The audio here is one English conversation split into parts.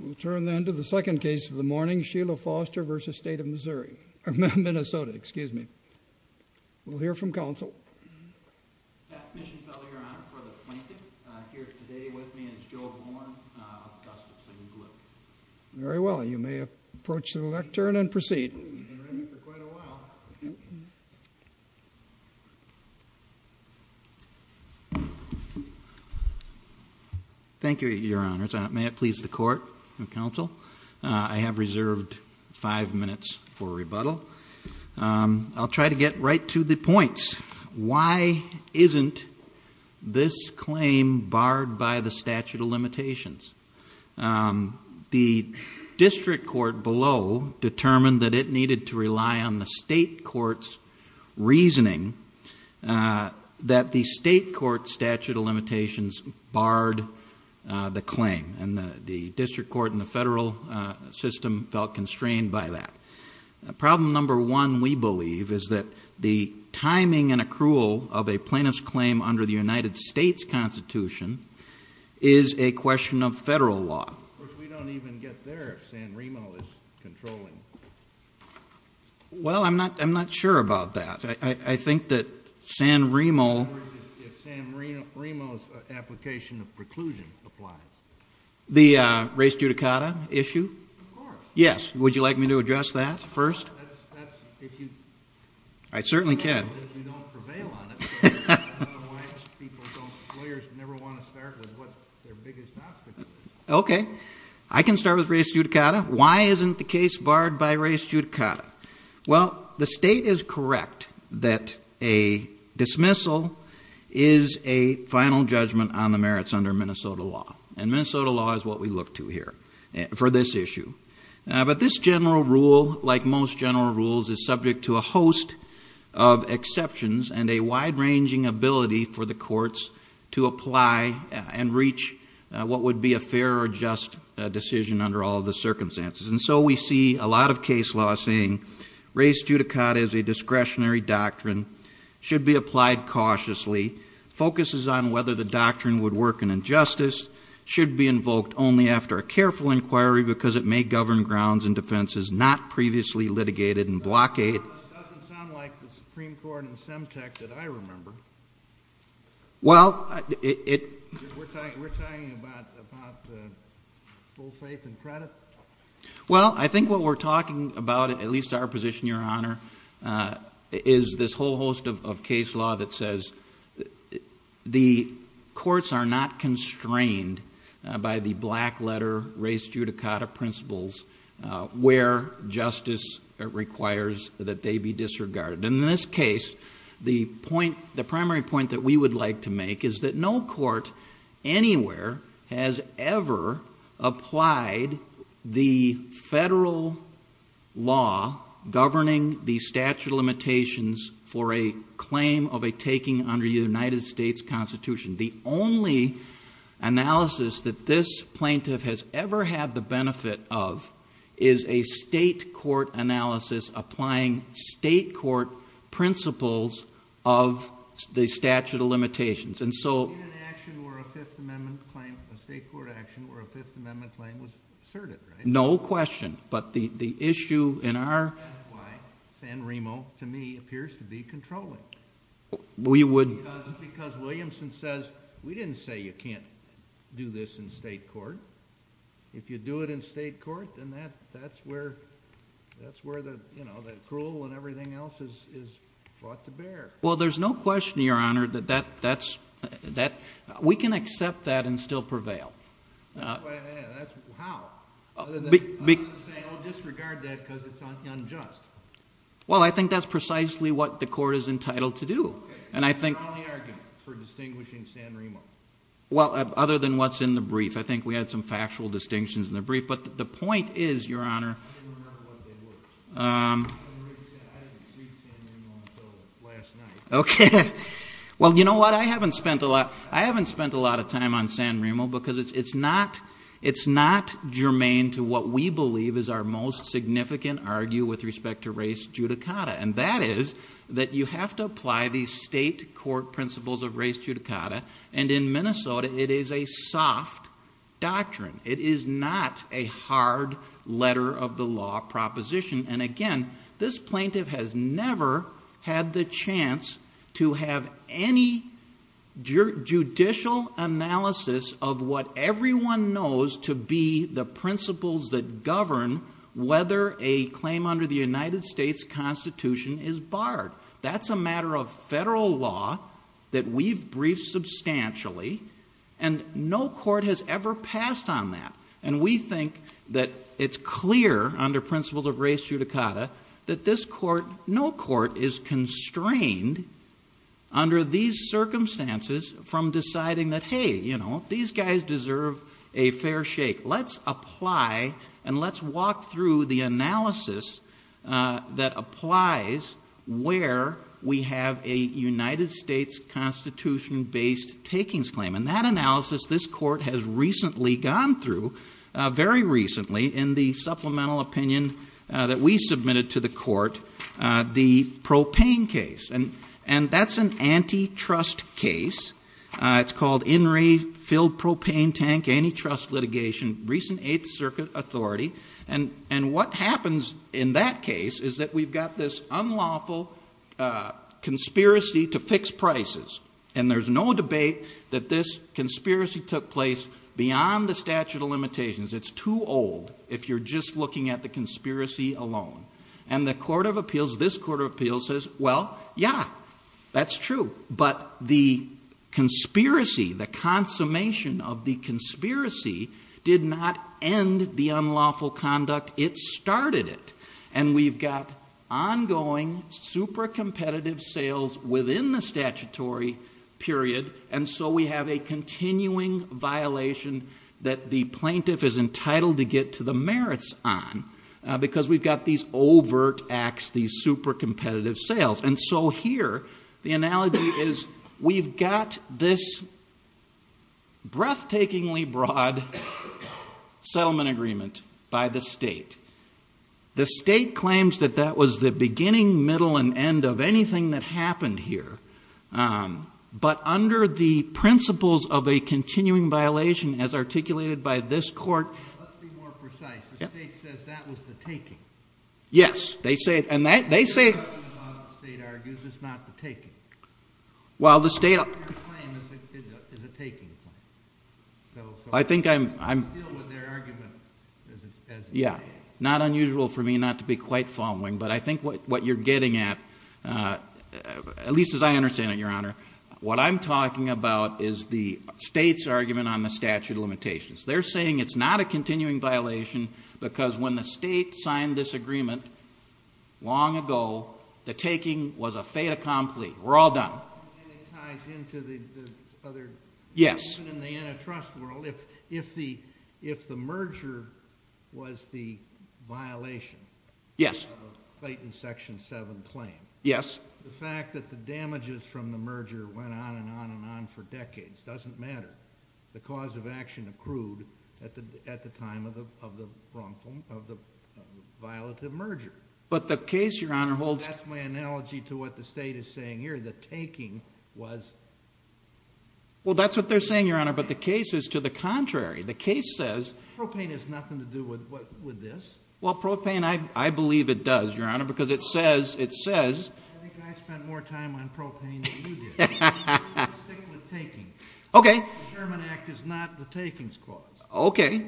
We'll turn then to the second case of the morning, Sheila Foster v. State of Minnesota. Excuse me. We'll hear from counsel. Pat Mischiefeller, Your Honor, for the plaintiff. Here today with me is Joe Horn of Augustus & Blue. Very well. You may approach the lectern and proceed. Thank you, Your Honors. May it please the court and counsel, I have reserved five minutes for rebuttal. Why isn't this claim barred by the statute of limitations? The district court below determined that it needed to rely on the state court's reasoning that the state court's statute of limitations barred the claim. The district court and the federal system felt constrained by that. Problem number one, we believe, is that the timing and accrual of a plaintiff's claim under the United States Constitution is a question of federal law. Of course, we don't even get there if San Remo is controlling it. Well, I'm not sure about that. I think that San Remo's application of preclusion applies. The race judicata issue? Of course. Yes, would you like me to address that first? I certainly can. If you don't prevail on it, lawyers never want to start with what their biggest obstacle is. Okay. I can start with race judicata. Why isn't the case barred by race judicata? Well, the state is correct that a dismissal is a final judgment on the merits under Minnesota law. And Minnesota law is what we look to here for this issue. But this general rule, like most general rules, is subject to a host of exceptions and a wide-ranging ability for the courts to apply and reach what would be a fair or just decision under all of the circumstances. And so we see a lot of case law saying race judicata is a discretionary doctrine, should be applied cautiously, focuses on whether the doctrine would work in injustice, should be invoked only after a careful inquiry because it may govern grounds and defenses not previously litigated and blockaded. That doesn't sound like the Supreme Court in Semtec that I remember. We're talking about full faith and credit? Well, I think what we're talking about, at least our position, Your Honor, is this whole host of case law that says the courts are not constrained by the black-letter race judicata principles where justice requires that they be disregarded. In this case, the primary point that we would like to make is that no court anywhere has ever applied the federal law governing the statute of limitations for a claim of a taking under the United States Constitution. The only analysis that this plaintiff has ever had the benefit of is a state court analysis applying state court principles of the statute of limitations. You mean an action where a Fifth Amendment claim, a state court action where a Fifth Amendment claim was asserted, right? No question. But the issue in our... That's why San Remo, to me, appears to be controlling. We would... Because Williamson says, we didn't say you can't do this in state court. If you do it in state court, then that's where the cruel and everything else is brought to bear. Well, there's no question, Your Honor, that that's... We can accept that and still prevail. How? I'm not saying, oh, disregard that because it's unjust. Well, I think that's precisely what the court is entitled to do. And I think... Okay. That's your only argument for distinguishing San Remo. Well, other than what's in the brief. I think we had some factual distinctions in the brief. But the point is, Your Honor... I didn't remember what they were. I haven't seen San Remo until last night. Okay. Well, you know what? I haven't spent a lot of time on San Remo because it's not germane to what we believe is our most significant argue with respect to race judicata. And that is that you have to apply these state court principles of race judicata. And in Minnesota, it is a soft doctrine. It is not a hard letter of the law proposition. And again, this plaintiff has never had the chance to have any judicial analysis of what everyone knows to be the principles that govern whether a claim under the United States Constitution is barred. That's a matter of federal law that we've briefed substantially. And no court has ever passed on that. And we think that it's clear under principles of race judicata that no court is constrained under these circumstances from deciding that, hey, you know, these guys deserve a fair shake. Let's apply and let's walk through the analysis that applies where we have a United States Constitution-based takings claim. And that analysis, this court has recently gone through, very recently, in the supplemental opinion that we submitted to the court, the propane case. And that's an antitrust case. It's called In Re Filled Propane Tank Antitrust Litigation, recent Eighth Circuit authority. And what happens in that case is that we've got this unlawful conspiracy to fix prices. And there's no debate that this conspiracy took place beyond the statute of limitations. It's too old if you're just looking at the conspiracy alone. And the court of appeals, this court of appeals says, well, yeah, that's true. But the conspiracy, the consummation of the conspiracy did not end the unlawful conduct. It started it. And we've got ongoing super competitive sales within the statutory period. And so we have a continuing violation that the plaintiff is entitled to get to the merits on. Because we've got these overt acts, these super competitive sales. And so here, the analogy is, we've got this breathtakingly broad settlement agreement by the state. The state claims that that was the beginning, middle, and end of anything that happened here. But under the principles of a continuing violation as articulated by this court. Let's be more precise. The state says that was the taking. Yes, they say it. And they say- What they're arguing about, the state argues, is not the taking. Well, the state- What they're saying is a taking claim, so- I think I'm- You can deal with their argument as it stands. Yeah, not unusual for me not to be quite following. But I think what you're getting at, at least as I understand it, Your Honor, what I'm talking about is the state's argument on the statute of limitations. They're saying it's not a continuing violation because when the state signed this agreement, long ago, the taking was a fait accompli. We're all done. And it ties into the other- Yes. Even in the antitrust world, if the merger was the violation. Yes. Clayton section seven claim. Yes. The fact that the damages from the merger went on and on and on for decades doesn't matter. The cause of action accrued at the time of the violative merger. But the case, Your Honor, holds- That's my analogy to what the state is saying here. The taking was- Well, that's what they're saying, Your Honor, but the case is to the contrary. The case says- Propane has nothing to do with this. Well, propane, I believe it does, Your Honor, because it says- I think I spent more time on propane than you did. Stick with taking. Okay. The Sherman Act is not the takings clause. Okay.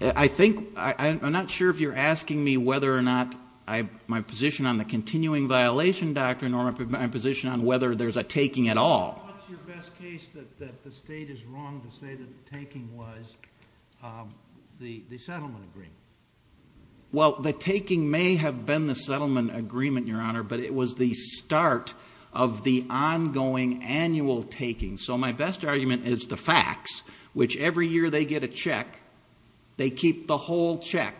I think, I'm not sure if you're asking me whether or not my position on the continuing violation doctrine or my position on whether there's a taking at all. What's your best case that the state is wrong to say that the taking was the settlement agreement? Well, the taking may have been the settlement agreement, Your Honor, but it was the start of the ongoing annual taking. So my best argument is the facts, which every year they get a check, they keep the whole check.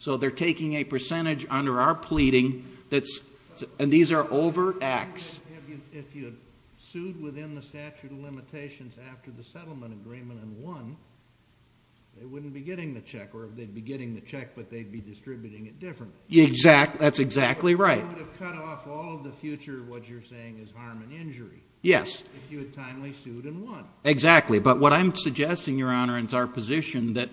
So they're taking a percentage under our pleading that's, and these are over acts. If you had sued within the statute of limitations after the settlement agreement and won, they wouldn't be getting the check. Or they'd be getting the check, but they'd be distributing it differently. That's exactly right. But that would have cut off all of the future of what you're saying is harm and injury. Yes. If you had timely sued and won. Exactly, but what I'm suggesting, Your Honor, is our position that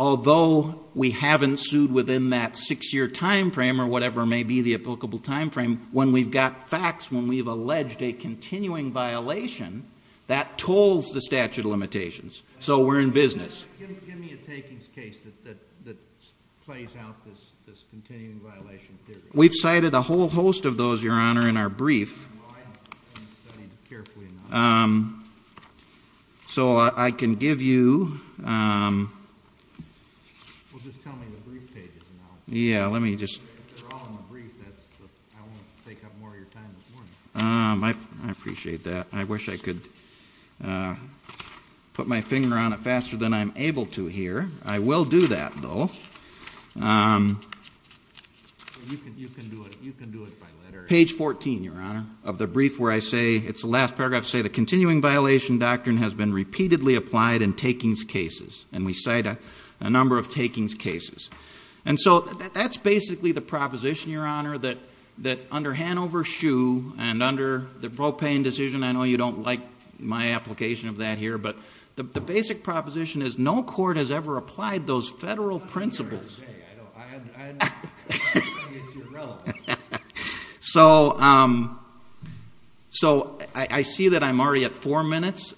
although we haven't sued within that six year time frame or whatever may be the applicable time frame, when we've got facts, when we've alleged a continuing violation, that tolls the statute of limitations, so we're in business. Give me a takings case that plays out this continuing violation theory. We've cited a whole host of those, Your Honor, in our brief. Well, I haven't studied it carefully enough. So I can give you. Well, just tell me the brief pages now. Yeah, let me just. They're all in the brief, that's the, I won't take up more of your time this morning. I appreciate that. I wish I could put my finger on it faster than I'm able to here. I will do that, though. You can do it by letter. Page 14, Your Honor, of the brief where I say, it's the last paragraph, say the continuing violation doctrine has been repeatedly applied in takings cases. And we cite a number of takings cases. And so that's basically the proposition, Your Honor, that under Hanover Shoe and under the propane decision, I know you don't like my application of that here. But the basic proposition is no court has ever applied those federal principles. I know, I know, I know, I know, it's irrelevant. So, I see that I'm already at four minutes.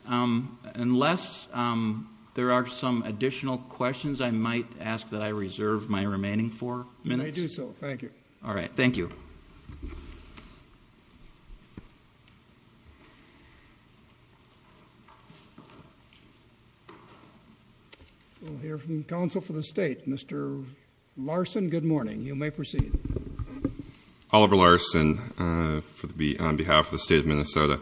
Unless there are some additional questions, I might ask that I reserve my remaining four minutes. You may do so, thank you. All right, thank you. We'll hear from the counsel for the state. Mr. Larson, good morning. You may proceed. Oliver Larson on behalf of the state of Minnesota.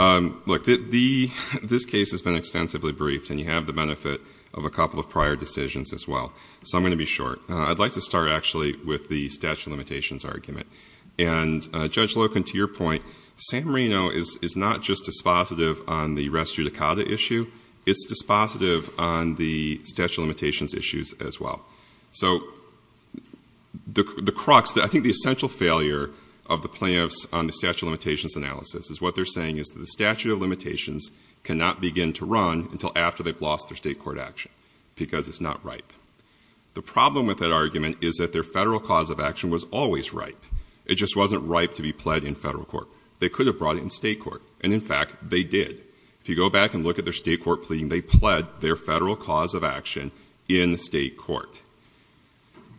Look, this case has been extensively briefed and you have the benefit of a couple of prior decisions as well. So I'm going to be short. I'd like to start actually with the statute of limitations argument. And Judge Loken, to your point, San Marino is not just dispositive on the res judicata issue. It's dispositive on the statute of limitations issues as well. So, the crux, I think the essential failure of the plaintiffs on the statute of limitations analysis, is what they're saying is the statute of limitations cannot begin to run until after they've lost their state court action. Because it's not ripe. The problem with that argument is that their federal cause of action was always ripe. It just wasn't ripe to be pled in federal court. They could have brought it in state court. And in fact, they did. If you go back and look at their state court plea, they pled their federal cause of action in state court.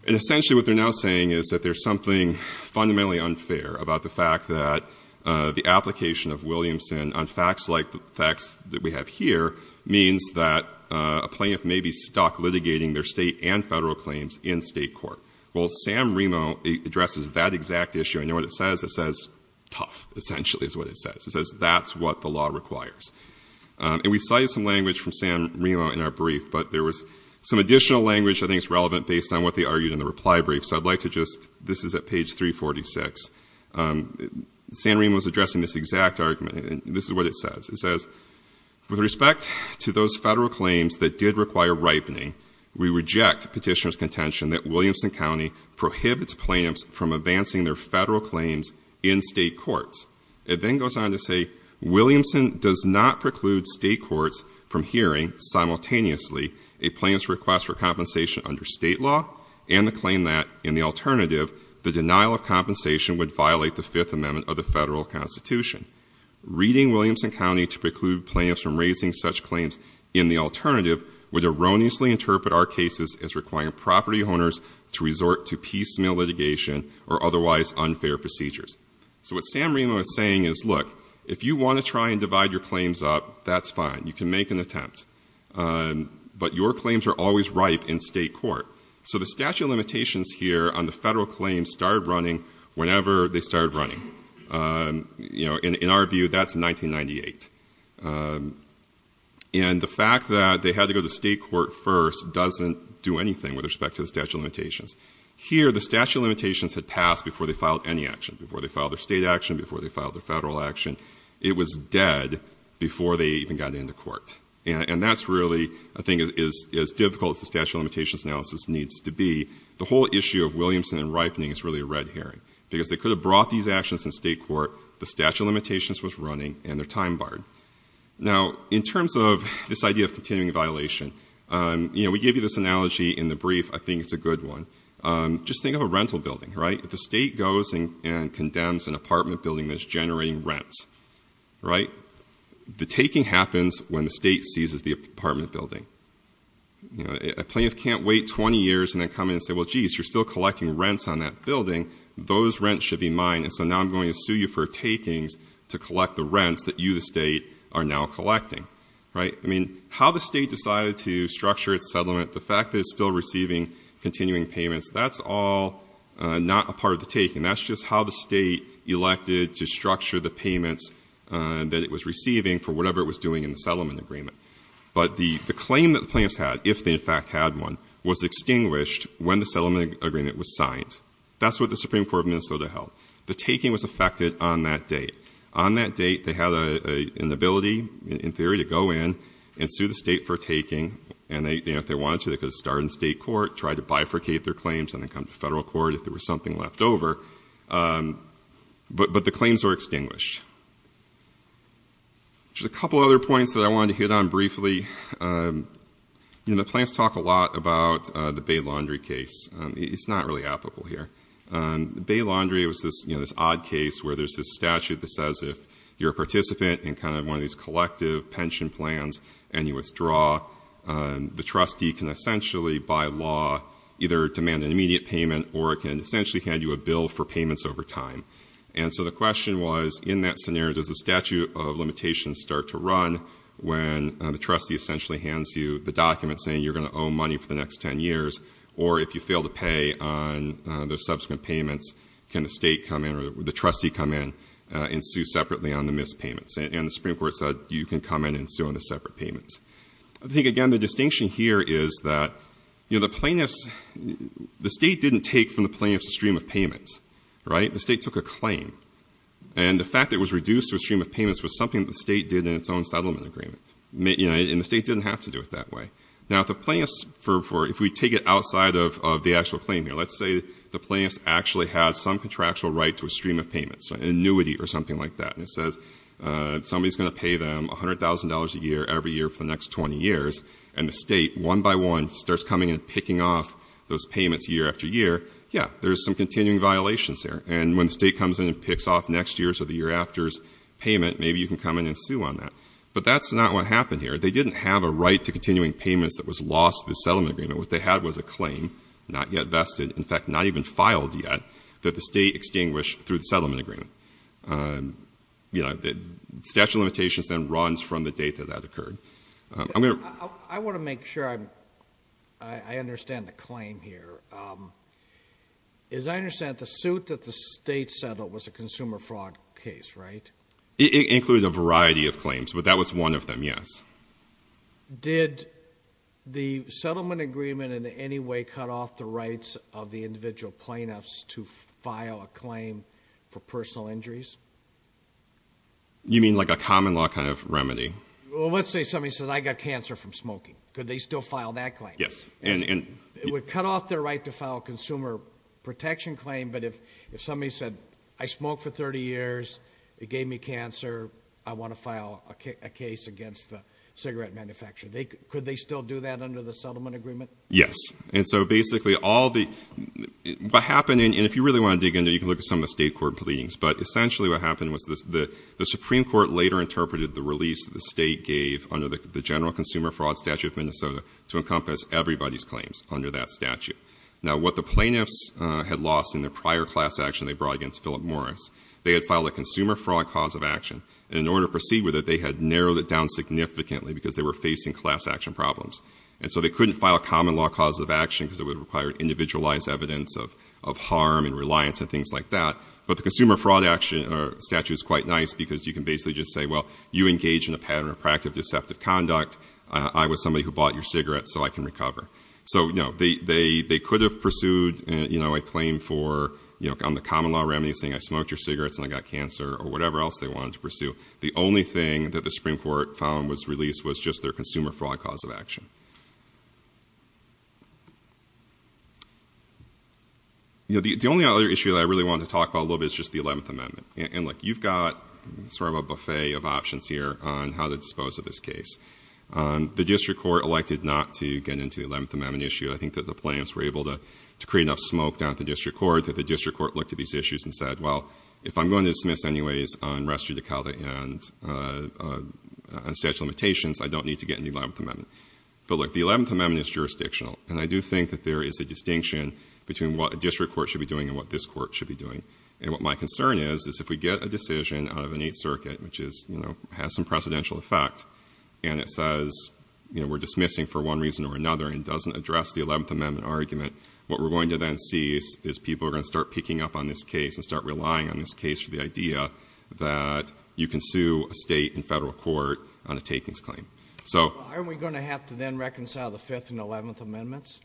And essentially what they're now saying is that there's something fundamentally unfair about the fact that the application of Williamson on facts like the facts that we have here, means that a plaintiff may be stuck litigating their state and federal claims in state court. Well, Sam Remo addresses that exact issue. And you know what it says? It says tough, essentially is what it says. It says that's what the law requires. And we cited some language from Sam Remo in our brief. But there was some additional language I think is relevant based on what they argued in the reply brief. So I'd like to just, this is at page 346. Sam Remo's addressing this exact argument, and this is what it says. It says, with respect to those federal claims that did require ripening, we reject petitioner's contention that Williamson County prohibits plaintiffs from advancing their federal claims in state courts. It then goes on to say, Williamson does not preclude state courts from hearing, simultaneously, a plaintiff's request for compensation under state law and the claim that, in the alternative, the denial of compensation would violate the Fifth Amendment of the federal constitution. Reading Williamson County to preclude plaintiffs from raising such claims in the alternative would erroneously interpret our cases as requiring property owners to resort to piecemeal litigation or otherwise unfair procedures. So what Sam Remo is saying is, look, if you want to try and divide your claims up, that's fine. You can make an attempt, but your claims are always ripe in state court. So the statute of limitations here on the federal claims started running whenever they started running. In our view, that's 1998. And the fact that they had to go to state court first doesn't do anything with respect to the statute of limitations. Here, the statute of limitations had passed before they filed any action, before they filed their state action, before they filed their federal action. It was dead before they even got into court. And that's really, I think, as difficult as the statute of limitations analysis needs to be. The whole issue of Williamson and ripening is really a red herring. Because they could have brought these actions in state court, the statute of limitations was running, and their time barred. Now, in terms of this idea of continuing violation, we gave you this analogy in the brief. I think it's a good one. Just think of a rental building, right? If the state goes and condemns an apartment building that's generating rents, right? The taking happens when the state seizes the apartment building. A plaintiff can't wait 20 years and then come in and say, well, jeez, you're still collecting rents on that building. Those rents should be mine, and so now I'm going to sue you for takings to collect the rents that you, the state, are now collecting, right? I mean, how the state decided to structure its settlement, the fact that it's still receiving continuing payments, that's all not a part of the taking. That's just how the state elected to structure the payments that it was receiving for whatever it was doing in the settlement agreement. But the claim that the plaintiffs had, if they in fact had one, was extinguished when the settlement agreement was signed. That's what the Supreme Court of Minnesota held. The taking was effected on that date. On that date, they had an ability, in theory, to go in and sue the state for taking. And if they wanted to, they could have started in state court, tried to bifurcate their claims, and then come to federal court if there was something left over. But the claims were extinguished. Just a couple other points that I wanted to hit on briefly. You know, the plaintiffs talk a lot about the Bay Laundry case. It's not really applicable here. Bay Laundry was this odd case where there's this statute that says if you're a participant in kind of one of these collective pension plans and you withdraw, the trustee can essentially, by law, either demand an immediate payment or it can essentially hand you a bill for payments over time. And so the question was, in that scenario, does the statute of limitations start to run when the trustee essentially hands you the document saying you're going to owe money for the next ten years? Or if you fail to pay on the subsequent payments, can the state come in or the trustee come in and sue separately on the missed payments? And the Supreme Court said, you can come in and sue on the separate payments. I think, again, the distinction here is that the plaintiffs, the state didn't take from the plaintiffs a stream of payments, right? The state took a claim. And the fact that it was reduced to a stream of payments was something that the state did in its own settlement agreement. And the state didn't have to do it that way. Now, if we take it outside of the actual claim here, let's say the plaintiffs actually had some contractual right to a stream of payments, an annuity or something like that. And it says somebody's going to pay them $100,000 a year every year for the next 20 years. And the state, one by one, starts coming and picking off those payments year after year. Yeah, there's some continuing violations there. And when the state comes in and picks off next year's or the year after's payment, maybe you can come in and sue on that. But that's not what happened here. They didn't have a right to continuing payments that was lost to the settlement agreement. What they had was a claim, not yet vested, in fact, not even filed yet, that the state extinguished through the settlement agreement. Statute of limitations then runs from the date that that occurred. I'm going to- I want to make sure I understand the claim here. As I understand it, the suit that the state settled was a consumer fraud case, right? It included a variety of claims, but that was one of them, yes. Did the settlement agreement in any way cut off the rights of the individual plaintiffs to file a claim for personal injuries? You mean like a common law kind of remedy? Well, let's say somebody says, I got cancer from smoking. Could they still file that claim? Yes, and- It would cut off their right to file a consumer protection claim. But if somebody said, I smoked for 30 years, it gave me cancer, I want to file a case against the cigarette manufacturer. Could they still do that under the settlement agreement? Yes, and so basically all the, what happened, and if you really want to dig into it, you can look at some of the state court pleadings. But essentially what happened was the Supreme Court later interpreted the release the state gave under the General Consumer Fraud Statute of Minnesota to encompass everybody's claims under that statute. Now what the plaintiffs had lost in the prior class action they brought against Philip Morris, they had filed a consumer fraud cause of action, and in order to proceed with it, they had narrowed it down significantly because they were facing class action problems. And so they couldn't file a common law cause of action because it would require individualized evidence of harm and reliance and things like that. But the consumer fraud statute is quite nice because you can basically just say, well, you engage in a pattern of proactive deceptive conduct, I was somebody who bought your cigarette so I can recover. So they could have pursued a claim for, on the common law remedy, saying I smoked your cigarettes and I got cancer, or whatever else they wanted to pursue. The only thing that the Supreme Court found was released was just their consumer fraud cause of action. The only other issue that I really wanted to talk about a little bit is just the 11th Amendment. And look, you've got sort of a buffet of options here on how to dispose of this case. The district court elected not to get into the 11th Amendment issue. I think that the plaintiffs were able to create enough smoke down at the district court that the district court looked at these issues and said, well, if I'm going to dismiss anyways on restitute the code and on statute of limitations, I don't need to get in the 11th Amendment. But look, the 11th Amendment is jurisdictional. And I do think that there is a distinction between what a district court should be doing and what this court should be doing. And what my concern is, is if we get a decision out of an Eighth Circuit, which has some precedential effect, and it says we're dismissing for one reason or another and doesn't address the 11th Amendment argument, what we're going to then see is people are going to start picking up on this case and start relying on this case for the idea that you can sue a state and federal court on a takings claim. So- Aren't we going to have to then reconcile the 5th and 11th Amendments?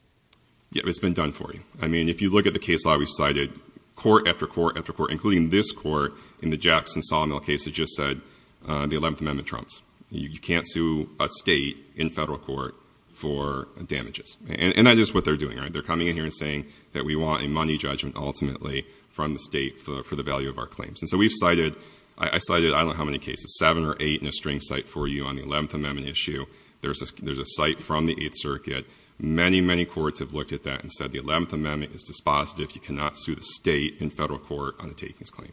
Yeah, it's been done for you. I mean, if you look at the case law, we've cited court after court after court, including this court in the Jackson-Solomil case that just said the 11th Amendment trumps. You can't sue a state in federal court for damages. And that is what they're doing, right? They're coming in here and saying that we want a money judgment ultimately from the state for the value of our claims. And so we've cited, I cited I don't know how many cases, seven or eight in a string site for you on the 11th Amendment issue. There's a site from the Eighth Circuit. Many, many courts have looked at that and said the 11th Amendment is dispositive. You cannot sue the state in federal court on a takings claim.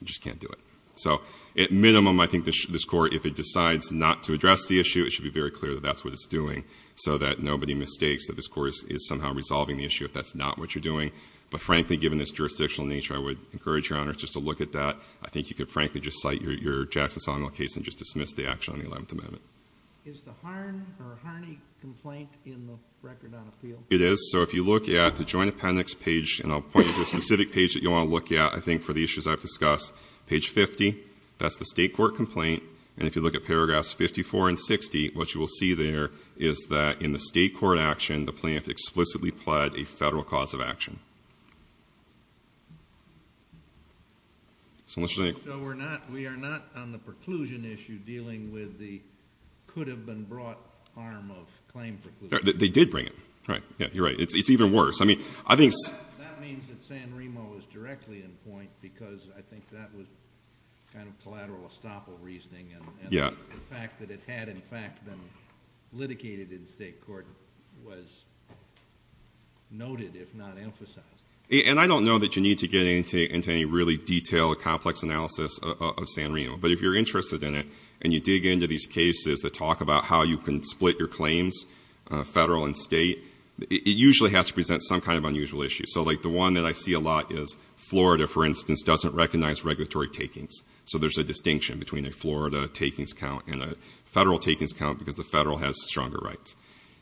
You just can't do it. So at minimum, I think this court, if it decides not to address the issue, it should be very clear that that's what it's doing. So that nobody mistakes that this court is somehow resolving the issue if that's not what you're doing. But frankly, given this jurisdictional nature, I would encourage your honors just to look at that. I think you could frankly just cite your Jackson-Solomil case and just dismiss the action on the 11th Amendment. Is the Harn or Harney complaint in the record on appeal? It is. So if you look at the joint appendix page, and I'll point to a specific page that you want to look at, I think for the issues I've discussed. Page 50, that's the state court complaint. And if you look at paragraphs 54 and 60, what you will see there is that in the state court action, the plaintiff explicitly pled a federal cause of action. So we're not, we are not on the preclusion issue dealing with the could have been brought harm of claim preclusion. They did bring it, right, yeah, you're right, it's even worse, I mean, I think- That means that San Remo is directly in point, because I think that was kind of collateral estoppel reasoning, and the fact that it had, in fact, been litigated in state court was noted, if not emphasized, And I don't know that you need to get into any really detailed, complex analysis of San Remo. But if you're interested in it, and you dig into these cases that talk about how you can split your claims, federal and state, it usually has to present some kind of unusual issue. So like the one that I see a lot is Florida, for instance, doesn't recognize regulatory takings. So there's a distinction between a Florida takings count and a federal takings count, because the federal has stronger rights.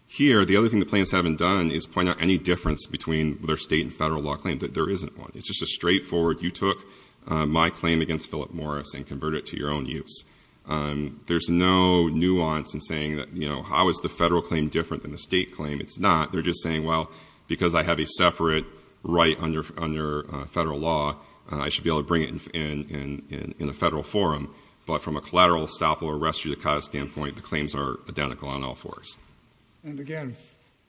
Here, the other thing the plaintiffs haven't done is point out any difference between their state and federal law claim that there isn't one. It's just a straightforward, you took my claim against Philip Morris and converted it to your own use. There's no nuance in saying that, you know, how is the federal claim different than the state claim? It's not. They're just saying, well, because I have a separate right under federal law, I should be able to bring it in a federal forum. But from a collateral estoppel or res judicata standpoint, the claims are identical on all fours. And again,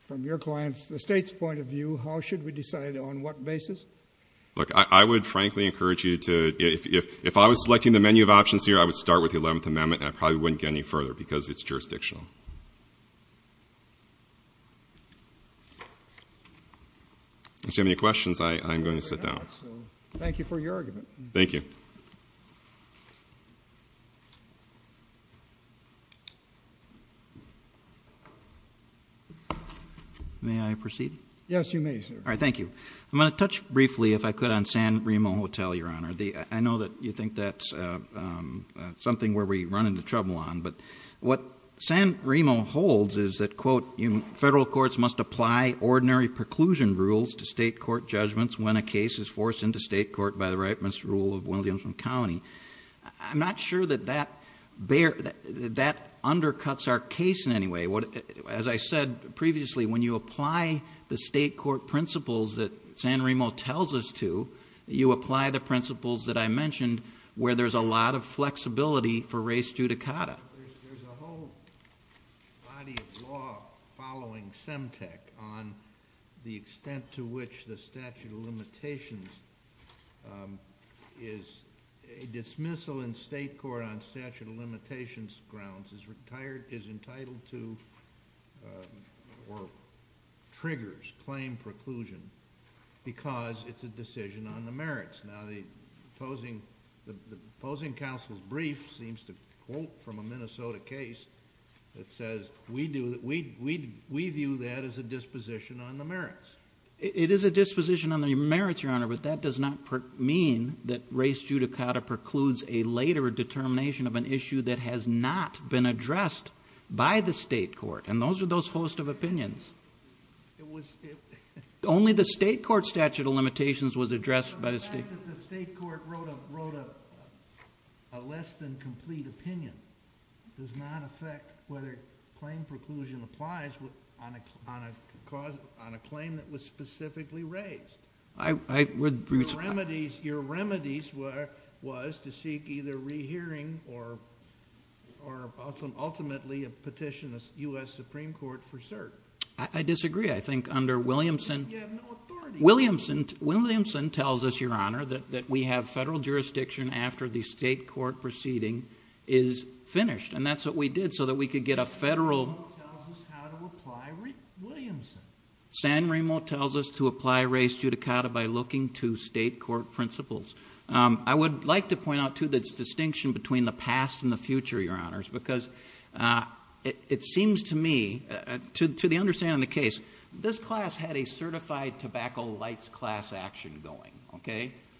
from your client's, the state's point of view, how should we decide on what basis? Look, I would frankly encourage you to, if I was selecting the menu of options here, I would start with the 11th Amendment, and I probably wouldn't get any further, because it's jurisdictional. If you have any questions, I'm going to sit down. Thank you for your argument. Thank you. May I proceed? Yes, you may, sir. All right, thank you. I'm going to touch briefly, if I could, on San Remo Hotel, Your Honor. I know that you think that's something where we run into trouble on. But what San Remo holds is that, quote, federal courts must apply ordinary preclusion rules to state court judgments when a case is forced into state court by the rightmost rule of Williamson County. I'm not sure that that undercuts our case in any way. As I said previously, when you apply the state court principles that San Remo tells us to, you apply the principles that I mentioned, where there's a lot of flexibility for res judicata. There's a whole body of law following SEMTEC on the extent to which the statute of limitations is, a dismissal in state court on statute of limitations grounds is entitled to, or triggers claim preclusion, because it's a decision on the merits. Now, the opposing counsel's brief seems to quote from a Minnesota case that says, we view that as a disposition on the merits. It is a disposition on the merits, Your Honor, but that does not mean that res judicata precludes a later determination of an issue that has not been addressed by the state court. And those are those host of opinions. It was- Only the state court statute of limitations was addressed by the state- The fact that the state court wrote a less than complete opinion does not affect whether claim preclusion applies on a claim that was specifically raised. I would- Your remedies was to seek either rehearing or ultimately a petition of US Supreme Court for cert. I disagree. I think under Williamson- You have no authority. Williamson tells us, Your Honor, that we have federal jurisdiction after the state court proceeding is finished, and that's what we did so that we could get a federal- San Remo tells us how to apply Williamson. San Remo tells us to apply res judicata by looking to state court principles. I would like to point out, too, this distinction between the past and the future, Your Honors, because it seems to me, to the understanding of the case, this class had a certified tobacco lights class action going.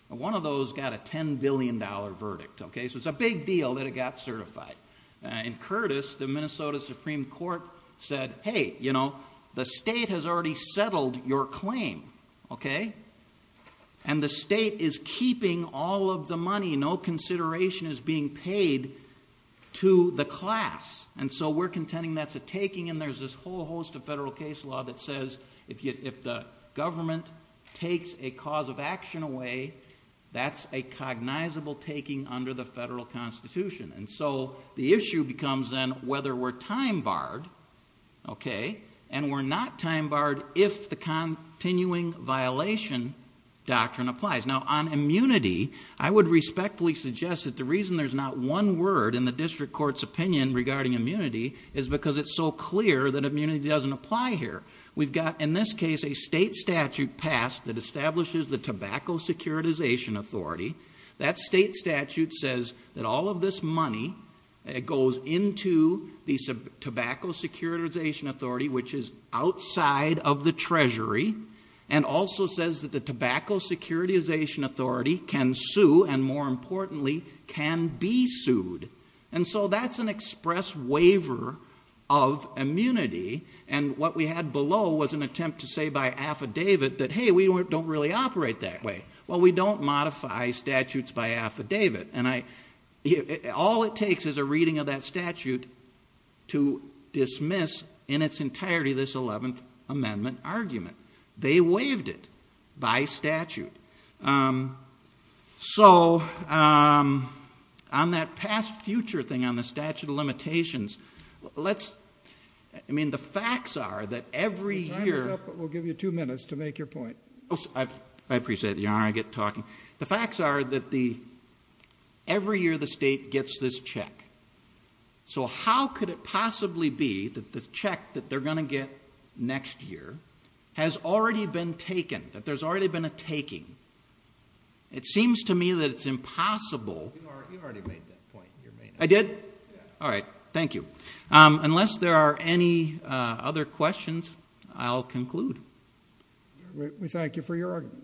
One of those got a $10 billion verdict. So it's a big deal that it got certified. In Curtis, the Minnesota Supreme Court said, Hey, you know, the state has already settled your claim, and the state is keeping all of the money. No consideration is being paid to the class. And so we're contending that's a taking, and there's this whole host of federal case law that says if the government takes a cause of action away, that's a cognizable taking under the federal Constitution. And so the issue becomes then whether we're time barred, and we're not time barred if the continuing violation doctrine applies. Now, on immunity, I would respectfully suggest that the reason there's not one word in the district court's opinion regarding immunity is because it's so clear that immunity doesn't apply here. We've got, in this case, a state statute passed that establishes the tobacco securitization authority. That state statute says that all of this money goes into the tobacco securitization authority, which is outside of the treasury, and also says that the tobacco securitization authority can sue and, more importantly, can be sued. And so that's an express waiver of immunity, and what we had below was an attempt to say by affidavit that, Hey, we don't really operate that way. Well, we don't modify statutes by affidavit, and all it takes is a reading of that statute to dismiss in its entirety this 11th Amendment argument. They waived it by statute. So on that past-future thing on the statute of limitations, I mean, the facts are that every year- Your time is up, but we'll give you two minutes to make your point. I appreciate it, Your Honor. I get talking. The facts are that every year the state gets this check. So how could it possibly be that this check that they're going to get next year has already been taken, that there's already been a taking? It seems to me that it's impossible- You've already made that point. I did? All right, thank you. Unless there are any other questions, I'll conclude. We thank you for your argument. Thank you.